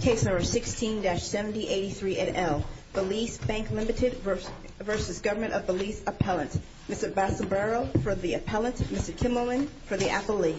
Case number 16-7083 at L. Belize Bank Limited v. Government of Belize Appellant. Mr. Basobaro for the appellant. Mr. Kimmelman for the affilee.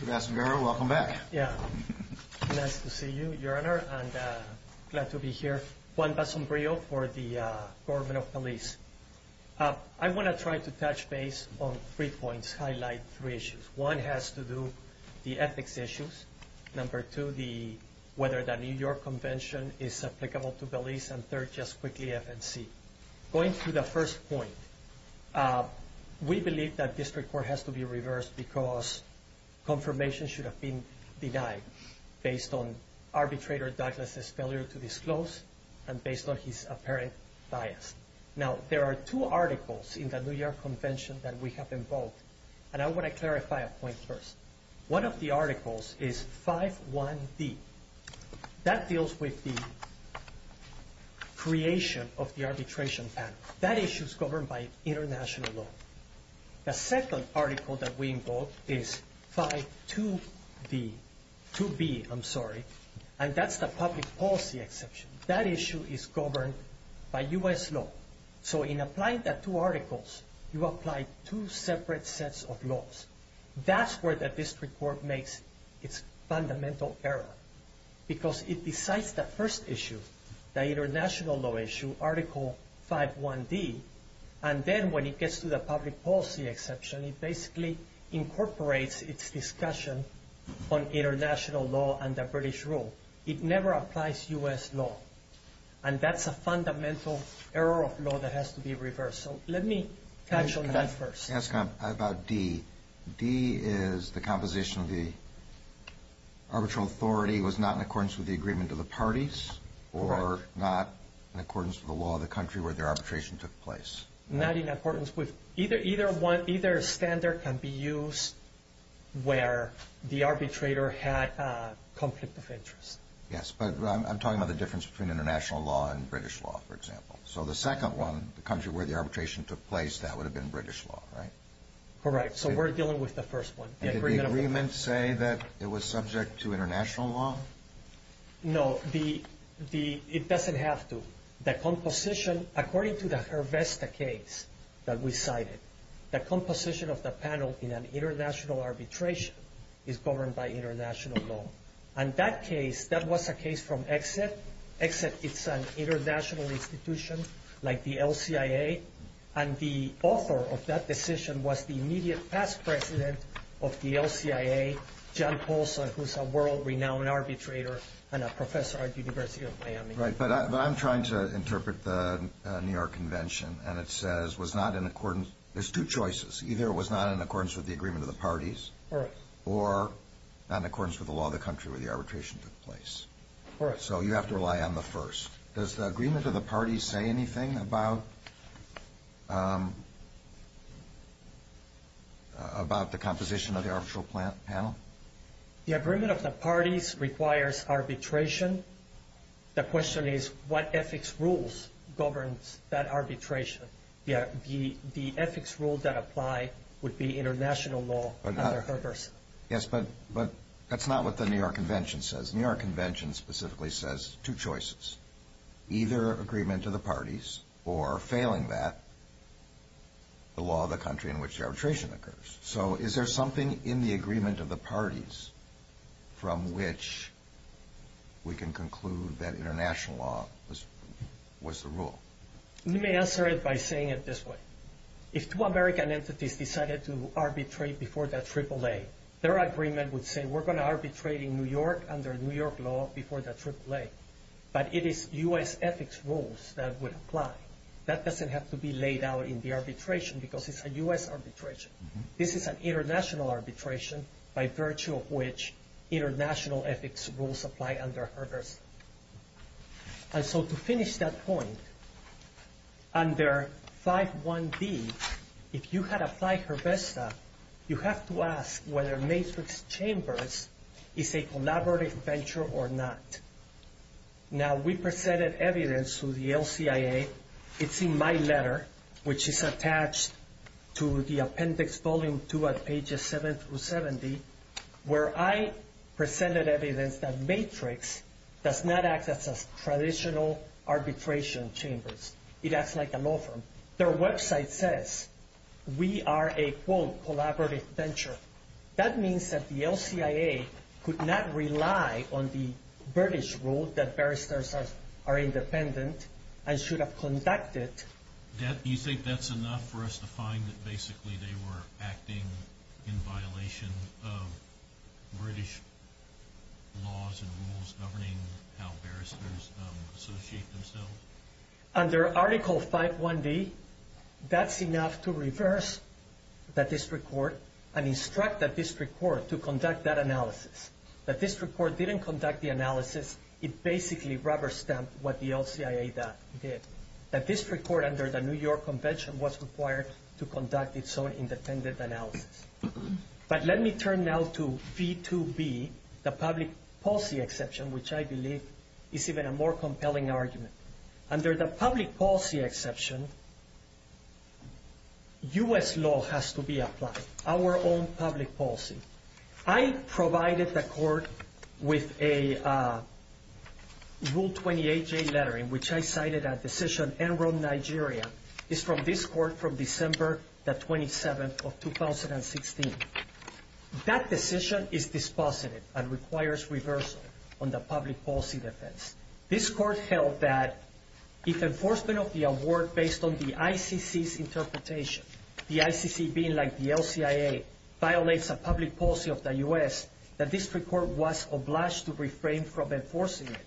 Mr. Basobaro, welcome back. Yeah. Nice to see you, Your Honor. Thank you, Your Honor, and glad to be here. Juan Basombrio for the Government of Belize. I want to try to touch base on three points, highlight three issues. One has to do with the ethics issues. Number two, whether the New York Convention is applicable to Belize. And third, just quickly, FNC. Going to the first point, we believe that district court has to be reversed because confirmation should have been denied based on arbitrator Douglas' failure to disclose and based on his apparent bias. Now, there are two articles in the New York Convention that we have invoked, and I want to clarify a point first. One of the articles is 5-1-D. That deals with the creation of the arbitration panel. That issue is governed by international law. The second article that we invoke is 5-2-B, and that's the public policy exception. That issue is governed by U.S. law. So in applying the two articles, you apply two separate sets of laws. That's where the district court makes its fundamental error because it decides the first issue, the international law issue, Article 5-1-D, and then when it gets to the public policy exception, it basically incorporates its discussion on international law and the British rule. It never applies U.S. law, and that's a fundamental error of law that has to be reversed. So let me touch on that first. Can I ask about D? D is the composition of the arbitral authority was not in accordance with the agreement of the parties or not in accordance with the law of the country where the arbitration took place? Not in accordance with. Either standard can be used where the arbitrator had conflict of interest. Yes, but I'm talking about the difference between international law and British law, for example. So the second one, the country where the arbitration took place, that would have been British law, right? Correct. So we're dealing with the first one. Did the agreement say that it was subject to international law? No, it doesn't have to. The composition, according to the Hervesta case that we cited, the composition of the panel in an international arbitration is governed by international law. And that case, that was a case from EXIT. EXIT is an international institution like the LCIA, and the author of that decision was the immediate past president of the LCIA, John Paulson, who's a world-renowned arbitrator and a professor at the University of Miami. Right, but I'm trying to interpret the New York Convention, and it says was not in accordance. There's two choices. Either it was not in accordance with the agreement of the parties or not in accordance with the law of the country where the arbitration took place. Correct. So you have to rely on the first. Does the agreement of the parties say anything about the composition of the arbitral panel? The agreement of the parties requires arbitration. The question is what ethics rules govern that arbitration. The ethics rules that apply would be international law under Hervesta. Yes, but that's not what the New York Convention says. The New York Convention specifically says two choices. Either agreement of the parties or, failing that, the law of the country in which arbitration occurs. So is there something in the agreement of the parties from which we can conclude that international law was the rule? Let me answer it by saying it this way. If two American entities decided to arbitrate before the AAA, their agreement would say we're going to arbitrate in New York under New York law before the AAA. But it is U.S. ethics rules that would apply. That doesn't have to be laid out in the arbitration because it's a U.S. arbitration. This is an international arbitration by virtue of which international ethics rules apply under Hervesta. And so to finish that point, under 5.1b, if you had applied Hervesta, you have to ask whether Matrix Chambers is a collaborative venture or not. Now, we presented evidence to the LCIA. It's in my letter, which is attached to the appendix volume 2 at pages 7 through 70, where I presented evidence that Matrix does not act as traditional arbitration chambers. It acts like a law firm. Their website says we are a, quote, collaborative venture. That means that the LCIA could not rely on the British rule that barristers are independent and should have conducted. Do you think that's enough for us to find that basically they were acting in violation of British laws and rules governing how barristers associate themselves? Under Article 5.1b, that's enough to reverse the district court and instruct the district court to conduct that analysis. If the district court didn't conduct the analysis, it basically rubber-stamped what the LCIA did. The district court under the New York Convention was required to conduct its own independent analysis. But let me turn now to v. 2b, the public policy exception, which I believe is even a more compelling argument. Under the public policy exception, U.S. law has to be applied, our own public policy. I provided the court with a Rule 28J letter in which I cited a decision, Enron, Nigeria, is from this court from December the 27th of 2016. That decision is dispositive and requires reversal on the public policy defense. This court held that if enforcement of the award based on the ICC's interpretation, the ICC being like the LCIA, violates a public policy of the U.S., the district court was obliged to refrain from enforcing it.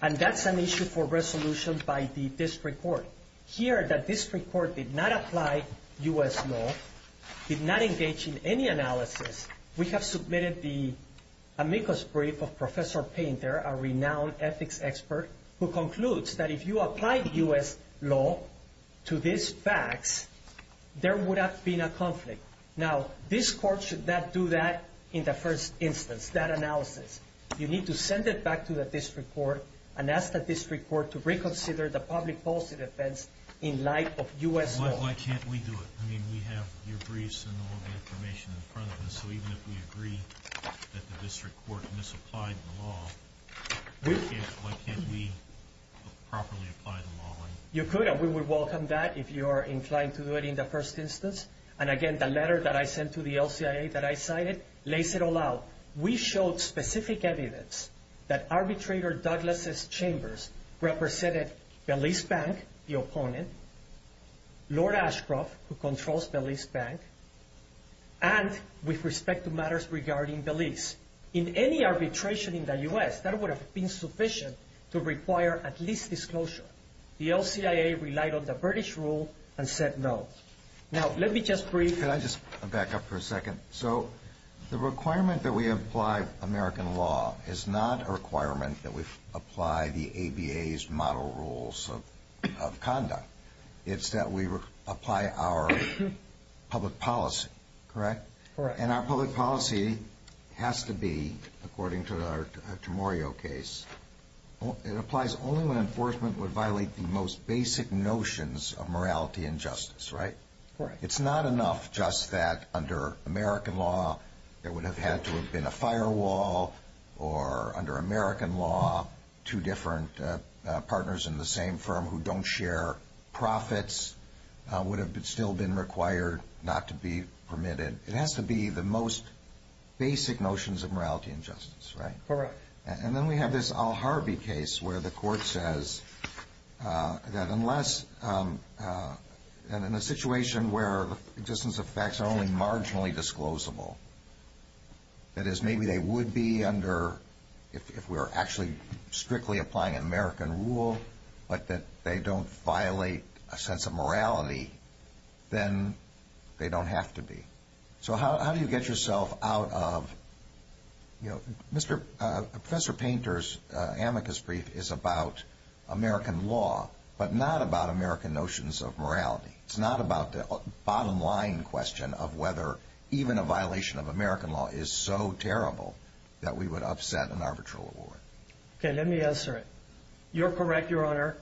And that's an issue for resolution by the district court. Here, the district court did not apply U.S. law, did not engage in any analysis. We have submitted the amicus brief of Professor Painter, a renowned ethics expert, who concludes that if you apply U.S. law to these facts, there would have been a conflict. Now, this court should not do that in the first instance, that analysis. You need to send it back to the district court and ask the district court to reconsider the public policy defense in light of U.S. law. Why can't we do it? I mean, we have your briefs and all the information in front of us. So even if we agree that the district court misapplied the law, why can't we properly apply the law? You could, and we would welcome that if you are inclined to do it in the first instance. And again, the letter that I sent to the LCIA that I cited lays it all out. Now, we showed specific evidence that Arbitrator Douglas' chambers represented Belize Bank, the opponent, Lord Ashcroft, who controls Belize Bank, and with respect to matters regarding Belize. In any arbitration in the U.S., that would have been sufficient to require at least disclosure. The LCIA relied on the British rule and said no. Now, let me just brief. Can I just back up for a second? So the requirement that we apply American law is not a requirement that we apply the ABA's model rules of conduct. It's that we apply our public policy, correct? Correct. And our public policy has to be, according to our Temorio case, it applies only when enforcement would violate the most basic notions of morality and justice, right? Correct. It's not enough just that under American law there would have had to have been a firewall, or under American law two different partners in the same firm who don't share profits would have still been required not to be permitted. It has to be the most basic notions of morality and justice, right? Correct. And then we have this Al Harvey case where the court says that unless, and in a situation where the existence of facts are only marginally disclosable, that is maybe they would be under if we're actually strictly applying American rule, but that they don't violate a sense of morality, then they don't have to be. So how do you get yourself out of, you know, Professor Painter's amicus brief is about American law, but not about American notions of morality. It's not about the bottom line question of whether even a violation of American law is so terrible that we would upset an arbitral award. Okay, let me answer it. You're correct, Your Honor.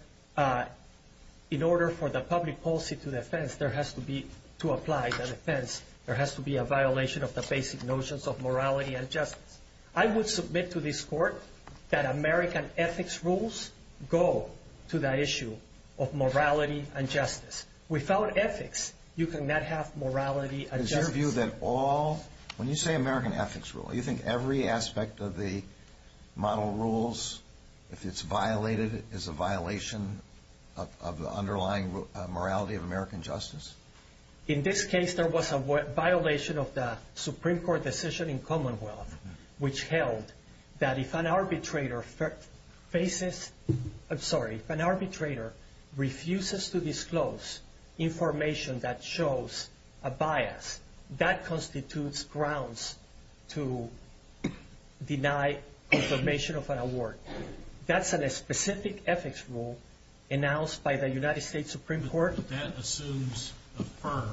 In order for the public policy to apply the defense, there has to be a violation of the basic notions of morality and justice. I would submit to this court that American ethics rules go to the issue of morality and justice. Without ethics, you cannot have morality and justice. When you say American ethics rule, you think every aspect of the model rules, if it's violated, is a violation of the underlying morality of American justice? In this case, there was a violation of the Supreme Court decision in Commonwealth, which held that if an arbitrator faces, I'm sorry, if an arbitrator refuses to disclose information that shows a bias, that constitutes grounds to deny confirmation of an award. That's a specific ethics rule announced by the United States Supreme Court. But that assumes a firm,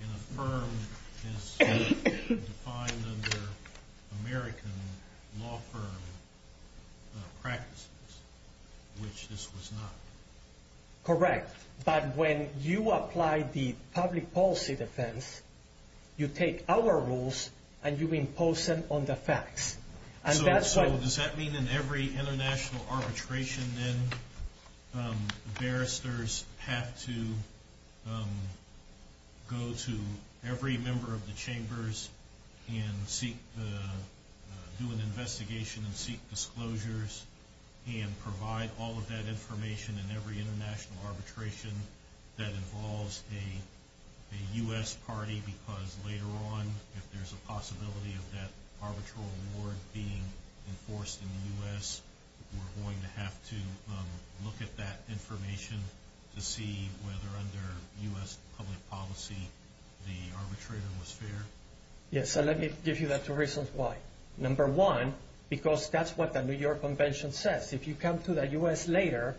and a firm is defined under American law firm practices, which this was not. Correct, but when you apply the public policy defense, you take our rules and you impose them on the facts. Does that mean in every international arbitration then, the barristers have to go to every member of the chambers and do an investigation and seek disclosures and provide all of that information in every international arbitration that involves a U.S. party? Because later on, if there's a possibility of that arbitral award being enforced in the U.S., we're going to have to look at that information to see whether under U.S. public policy, the arbitrator was fair? Yes, so let me give you the two reasons why. Number one, because that's what the New York Convention says. If you come to the U.S. later,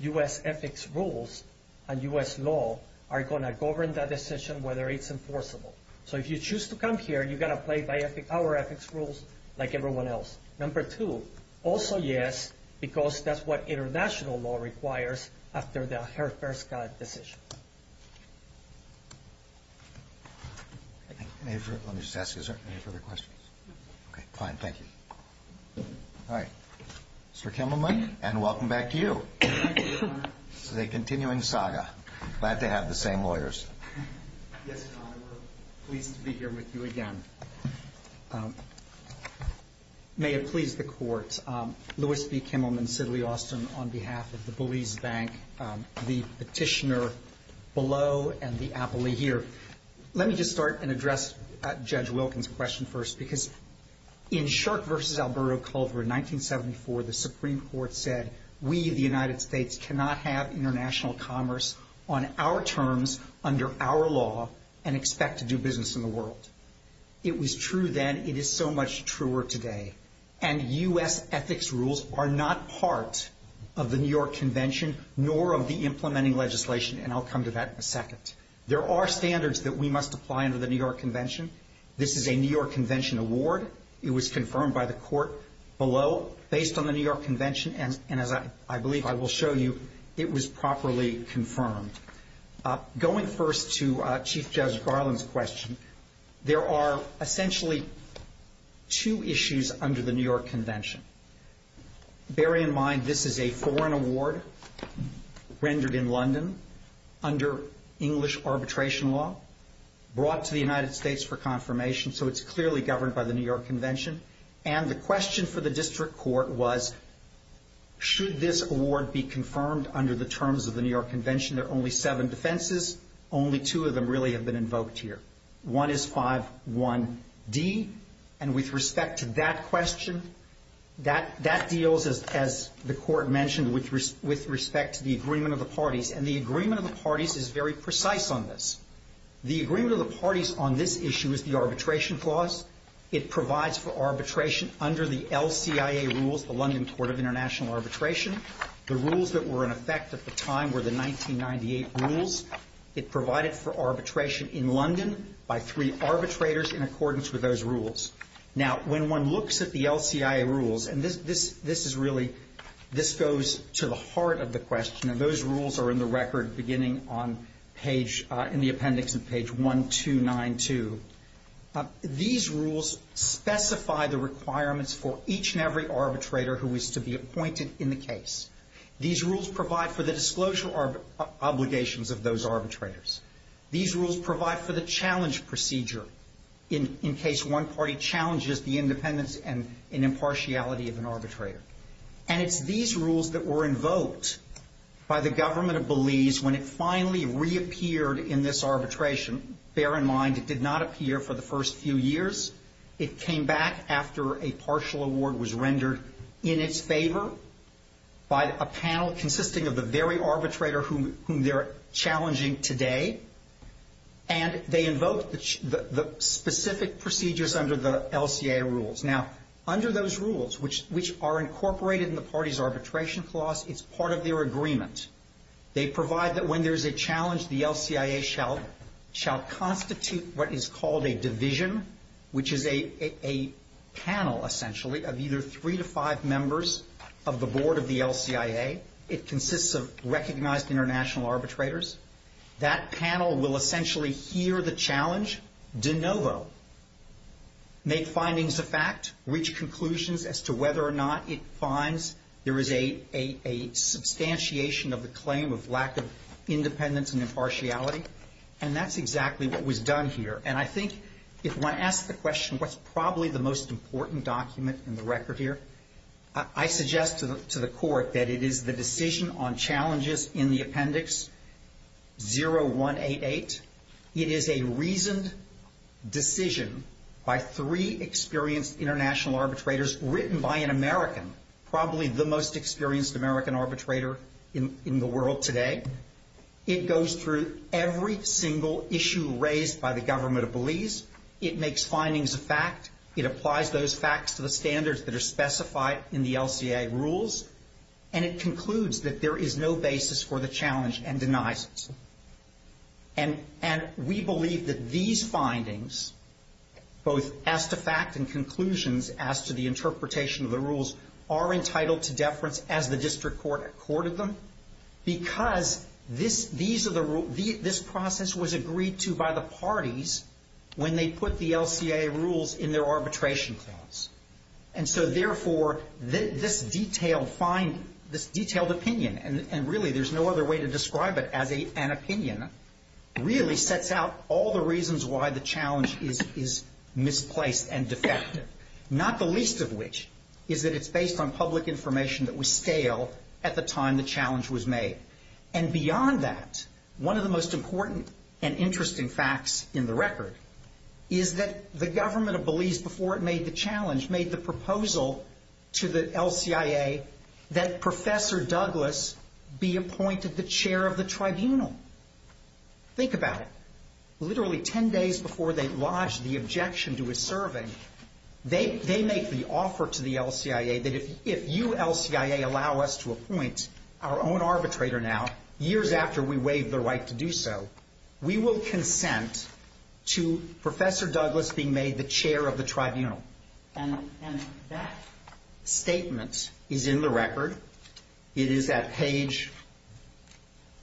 U.S. ethics rules and U.S. law are going to govern that decision, whether it's enforceable. So if you choose to come here, you've got to play by our ethics rules like everyone else. Number two, also yes, because that's what international law requires after the Herr-Perska decision. Let me just ask, is there any further questions? Okay, fine, thank you. All right, Mr. Kimmelman, and welcome back to you. Thank you, Your Honor. This is a continuing saga. Glad to have the same lawyers. Yes, Your Honor, we're pleased to be here with you again. May it please the Court, Louis B. Kimmelman, Sidley Austin, on behalf of the Belize Bank, the petitioner below, and the appellee here. Let me just start and address Judge Wilkins' question first, because in Shark v. Alberto Culver in 1974, the Supreme Court said we, the United States, cannot have international commerce on our terms under our law and expect to do business in the world. It was true then. It is so much truer today. And U.S. ethics rules are not part of the New York Convention nor of the implementing legislation, and I'll come to that in a second. There are standards that we must apply under the New York Convention. This is a New York Convention award. It was confirmed by the Court below, based on the New York Convention, and as I believe I will show you, it was properly confirmed. Going first to Chief Judge Garland's question, there are essentially two issues under the New York Convention. Bear in mind this is a foreign award rendered in London under English arbitration law, brought to the United States for confirmation, so it's clearly governed by the New York Convention. And the question for the District Court was, should this award be confirmed under the terms of the New York Convention? There are only seven defenses. Only two of them really have been invoked here. One is 5.1d. And with respect to that question, that deals, as the Court mentioned, with respect to the agreement of the parties, and the agreement of the parties is very precise on this. The agreement of the parties on this issue is the arbitration clause. It provides for arbitration under the LCIA rules, the London Court of International Arbitration. The rules that were in effect at the time were the 1998 rules. It provided for arbitration in London by three arbitrators in accordance with those rules. Now, when one looks at the LCIA rules, and this is really, this goes to the heart of the question, and those rules are in the record beginning on page, in the appendix on page 1292. These rules specify the requirements for each and every arbitrator who is to be appointed in the case. These rules provide for the disclosure obligations of those arbitrators. These rules provide for the challenge procedure in case one party challenges the independence and impartiality of an arbitrator. And it's these rules that were invoked by the government of Belize when it finally reappeared in this arbitration. Bear in mind, it did not appear for the first few years. It came back after a partial award was rendered in its favor by a panel consisting of the very arbitrator whom they're challenging today. And they invoked the specific procedures under the LCIA rules. Now, under those rules, which are incorporated in the party's arbitration clause, it's part of their agreement. They provide that when there's a challenge, the LCIA shall constitute what is called a division, which is a panel, essentially, of either three to five members of the board of the LCIA. It consists of recognized international arbitrators. That panel will essentially hear the challenge de novo, make findings of fact, reach conclusions as to whether or not it finds there is a substantiation of the claim of lack of independence and impartiality. And that's exactly what was done here. And I think if one asks the question, what's probably the most important document in the record here, I suggest to the court that it is the decision on challenges in the appendix 0188. It is a reasoned decision by three experienced international arbitrators written by an American, probably the most experienced American arbitrator in the world today. It goes through every single issue raised by the government of Belize. It makes findings of fact. It applies those facts to the standards that are specified in the LCIA rules. And it concludes that there is no basis for the challenge and denies it. And we believe that these findings, both as to fact and conclusions as to the interpretation of the rules, are entitled to deference as the district court accorded them, because this process was agreed to by the parties when they put the LCIA rules in their arbitration clause. And so, therefore, this detailed opinion, and really there's no other way to describe it as an opinion, really sets out all the reasons why the challenge is misplaced and defective, not the least of which is that it's based on public information that was stale at the time the challenge was made. And beyond that, one of the most important and interesting facts in the record is that the government of Belize, before it made the challenge, made the proposal to the LCIA that Professor Douglas be appointed the chair of the tribunal. Think about it. Literally 10 days before they lodged the objection to his serving, they make the offer to the LCIA that if you, LCIA, allow us to appoint our own arbitrator now, years after we waive the right to do so, we will consent to Professor Douglas being made the chair of the tribunal. And that statement is in the record. It is at page,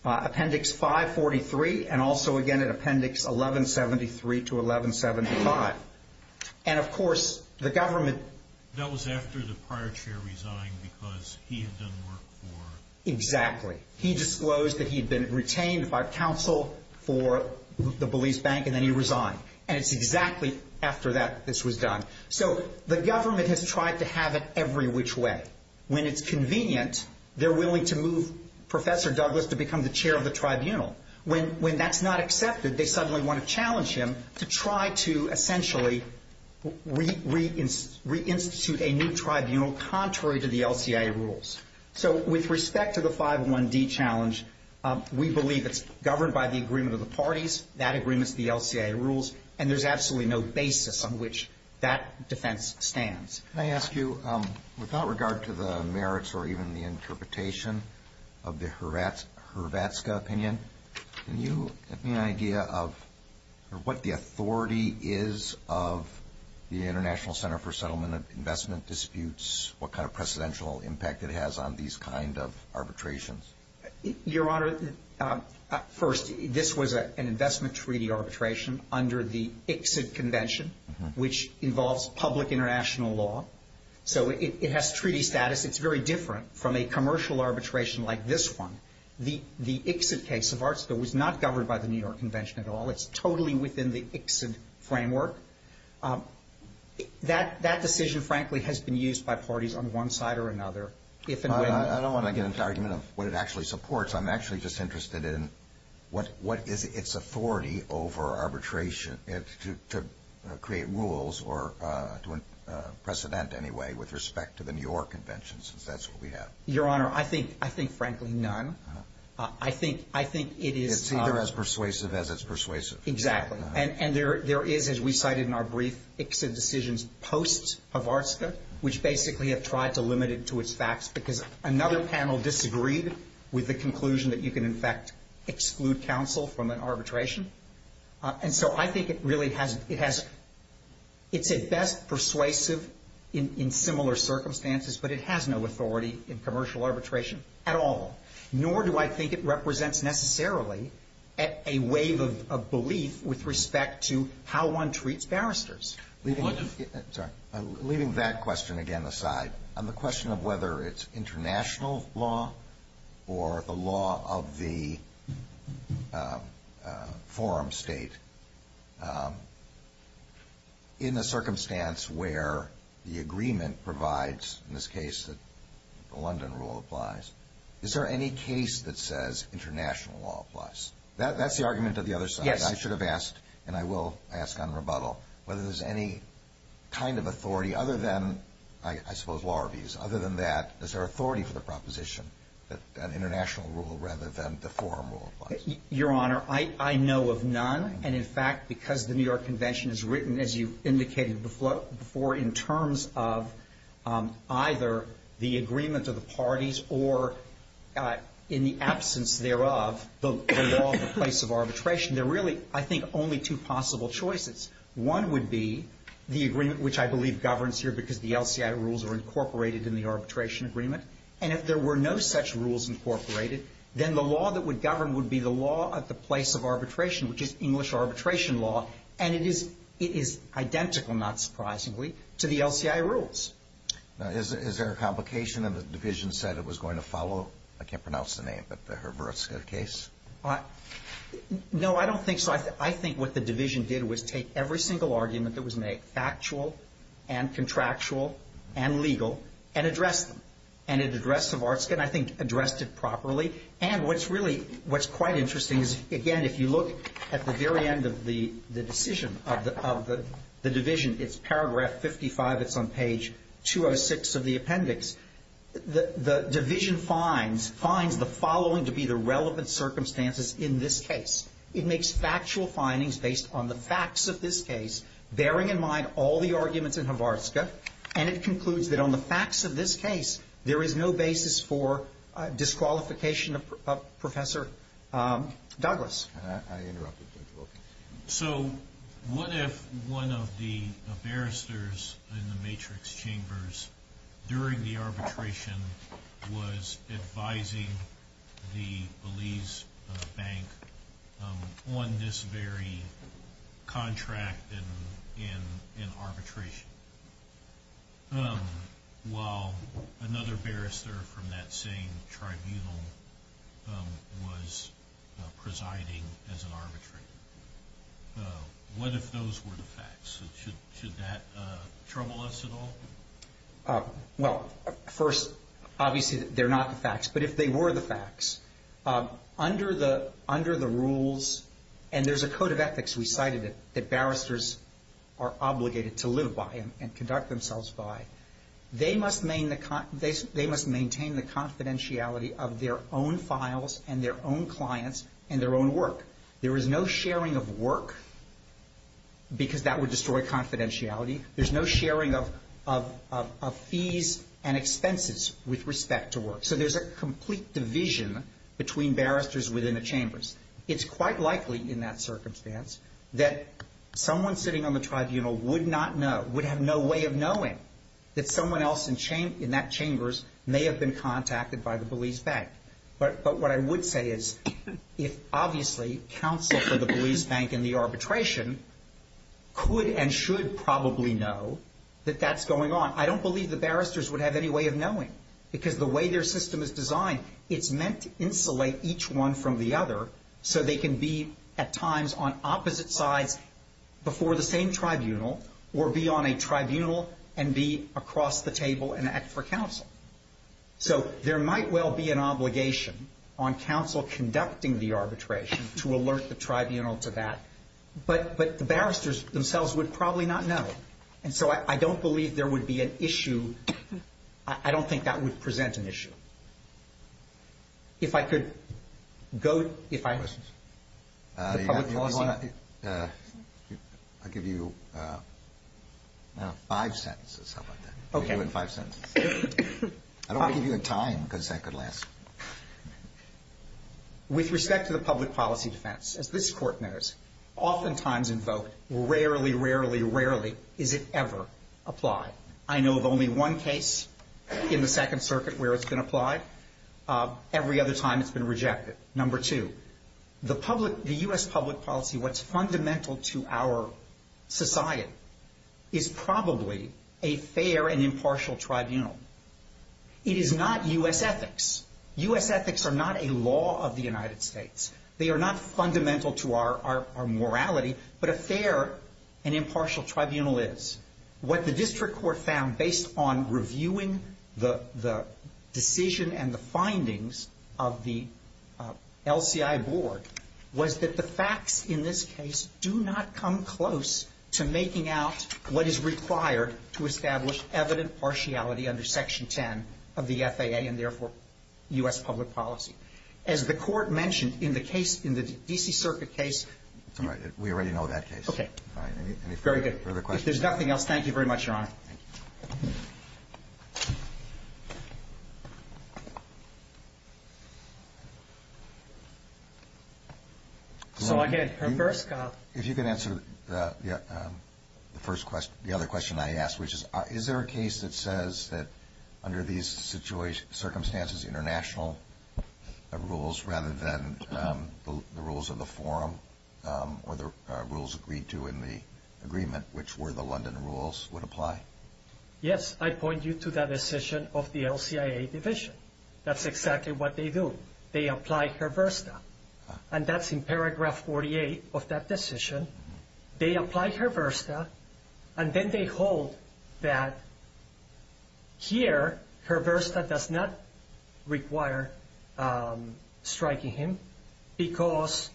appendix 543, and also, again, at appendix 1173 to 1175. And, of course, the government... That was after the prior chair resigned because he had done work for... Exactly. He disclosed that he had been retained by counsel for the Belize Bank, and then he resigned. And it's exactly after this was done. So the government has tried to have it every which way. When it's convenient, they're willing to move Professor Douglas to become the chair of the tribunal. When that's not accepted, they suddenly want to challenge him to try to essentially reinstitute a new tribunal contrary to the LCIA rules. So with respect to the 501D challenge, we believe it's governed by the agreement of the parties. That agreement's the LCIA rules, and there's absolutely no basis on which that defense stands. Can I ask you, without regard to the merits or even the interpretation of the Hrvatska opinion, can you give me an idea of what the authority is of the International Center for Settlement Investment Disputes, what kind of precedential impact it has on these kind of arbitrations? Your Honor, first, this was an investment treaty arbitration under the ICSID convention, which involves public international law. So it has treaty status. It's very different from a commercial arbitration like this one. The ICSID case of Hrvatska was not governed by the New York Convention at all. It's totally within the ICSID framework. That decision, frankly, has been used by parties on one side or another, if and when they get it. I don't know what it actually supports. I'm actually just interested in what is its authority over arbitration to create rules or to precedent anyway with respect to the New York Convention, since that's what we have. Your Honor, I think, frankly, none. I think it is. It's either as persuasive as it's persuasive. Exactly. And there is, as we cited in our brief, ICSID decisions post-Hrvatska, which basically have tried to limit it to its facts because another panel disagreed with the conclusion that you can, in fact, exclude counsel from an arbitration. And so I think it really has – it has – it's at best persuasive in similar circumstances, but it has no authority in commercial arbitration at all, nor do I think it represents necessarily a wave of belief with respect to how one treats barristers. Sorry. Leaving that question, again, aside, on the question of whether it's international law or the law of the forum state, in a circumstance where the agreement provides, in this case, that the London Rule applies, is there any case that says international law applies? That's the argument of the other side. Yes. I should have asked, and I will ask on rebuttal, whether there's any kind of authority other than, I suppose, law reviews. Other than that, is there authority for the proposition that an international rule rather than the forum rule applies? Your Honor, I know of none. And, in fact, because the New York Convention is written, as you indicated before, in terms of either the agreement of the parties or, in the absence thereof, the law of the place of arbitration, there are really, I think, only two possible choices. One would be the agreement, which I believe governs here because the LCI rules are incorporated in the arbitration agreement. And if there were no such rules incorporated, then the law that would govern would be the law at the place of arbitration, which is English arbitration law. And it is identical, not surprisingly, to the LCI rules. Now, is there a complication in the division said it was going to follow? I can't pronounce the name, but the Hrvostka case? No, I don't think so. I think what the division did was take every single argument that was made, factual and contractual and legal, and address them. And it addressed the Hrvostka, and I think addressed it properly. And what's really, what's quite interesting is, again, if you look at the very end of the decision of the division, it's paragraph 55, it's on page 206 of the appendix, the division finds the following to be the relevant circumstances in this case. It makes factual findings based on the facts of this case, bearing in mind all the arguments in Hrvostka, and it concludes that on the facts of this case, there is no basis for disqualification of Professor Douglas. I interrupted, Judge Wilkins. So, what if one of the barristers in the matrix chambers during the arbitration was advising the Belize Bank on this very contract in arbitration, while another barrister from that same tribunal was presiding as an arbitrator? What if those were the facts? Should that trouble us at all? Well, first, obviously they're not the facts, but if they were the facts, under the rules, and there's a code of ethics, we cited it, that barristers are obligated to live by and conduct themselves by, they must maintain the confidentiality of their own files and their own clients and their own work. There is no sharing of work, because that would destroy confidentiality. There's no sharing of fees and expenses with respect to work. So, there's a complete division between barristers within the chambers. It's quite likely, in that circumstance, that someone sitting on the tribunal would not know, would have no way of knowing that someone else in that chambers may have been contacted by the Belize Bank. But what I would say is, if, obviously, counsel for the Belize Bank in the arbitration could and should probably know that that's going on, I don't believe the barristers would have any way of knowing, because the way their system is designed, it's meant to insulate each one from the other so they can be, at times, on opposite sides before the same tribunal, or be on a tribunal and be across the table and act for counsel. So, there might well be an obligation on counsel conducting the arbitration to alert the tribunal to that, but the barristers themselves would probably not know. And so, I don't believe there would be an issue. I don't think that would present an issue. If I could go, if I... I'll give you five sentences. Okay. I'll give you five sentences. I don't want to give you a time, because that could last. With respect to the public policy defense, as this Court knows, oftentimes invoked, rarely, rarely, rarely is it ever applied. I know of only one case in the Second Circuit where it's been applied. Every other time it's been rejected. Number two, the public, the U.S. public policy, what's fundamental to our society, is probably a fair and impartial tribunal. It is not U.S. ethics. U.S. ethics are not a law of the United States. They are not fundamental to our morality, but a fair and impartial tribunal is. What the district court found, based on reviewing the decision and the findings of the LCI board, was that the facts in this case do not come close to making out what is required to establish evident partiality under Section 10 of the FAA and, therefore, U.S. public policy. As the Court mentioned in the case, in the D.C. Circuit case. That's all right. We already know that case. Okay. Fine. Any further questions? Very good. If there's nothing else, thank you very much, Your Honor. Thank you. So, again, her first question. If you can answer the first question, the other question I asked, which is, is there a case that says that, under these circumstances, international rules, rather than the rules of the forum or the rules agreed to in the agreement, which were the London rules, would apply? Yes. I point you to that decision of the LCIA division. That's exactly what they do. They apply Hrvosta, and that's in paragraph 48 of that decision. They apply Hrvosta, and then they hold that, here, Hrvosta does not require striking him because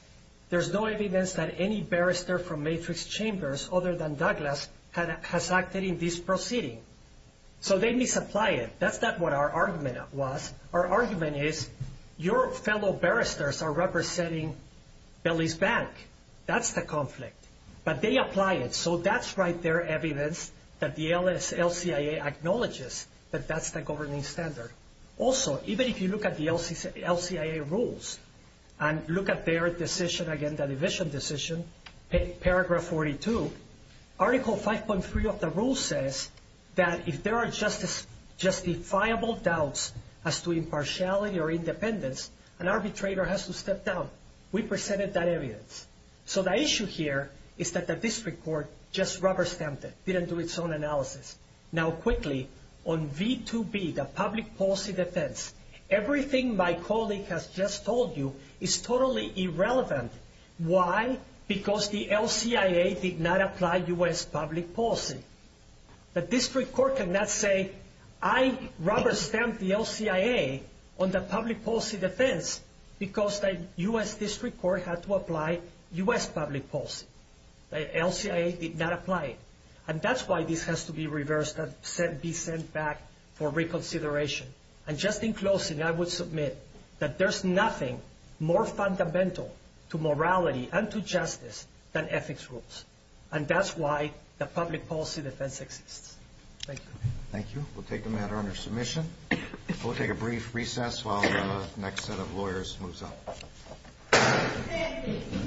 there's no evidence that any barrister from Matrix Chambers, other than Douglas, has acted in this proceeding. So they misapply it. That's not what our argument was. Our argument is, your fellow barristers are representing Belize Bank. That's the conflict. But they apply it. So that's right there evidence that the LCIA acknowledges that that's the governing standard. Also, even if you look at the LCIA rules and look at their decision, again, the division decision, paragraph 42, article 5.3 of the rule says that if there are justifiable doubts as to impartiality or independence, an arbitrator has to step down. We presented that evidence. So the issue here is that the district court just rubber-stamped it, didn't do its own analysis. Now, quickly, on V2B, the public policy defense, everything my colleague has just told you is totally irrelevant. Why? Because the LCIA did not apply U.S. public policy. The district court cannot say, I rubber-stamped the LCIA on the public policy defense because the U.S. district court had to apply U.S. public policy. The LCIA did not apply it. And that's why this has to be reversed and be sent back for reconsideration. And just in closing, I would submit that there's nothing more fundamental to morality and to justice than ethics rules. And that's why the public policy defense exists. Thank you. Thank you. We'll take the matter under submission. We'll take a brief recess while the next set of lawyers moves on.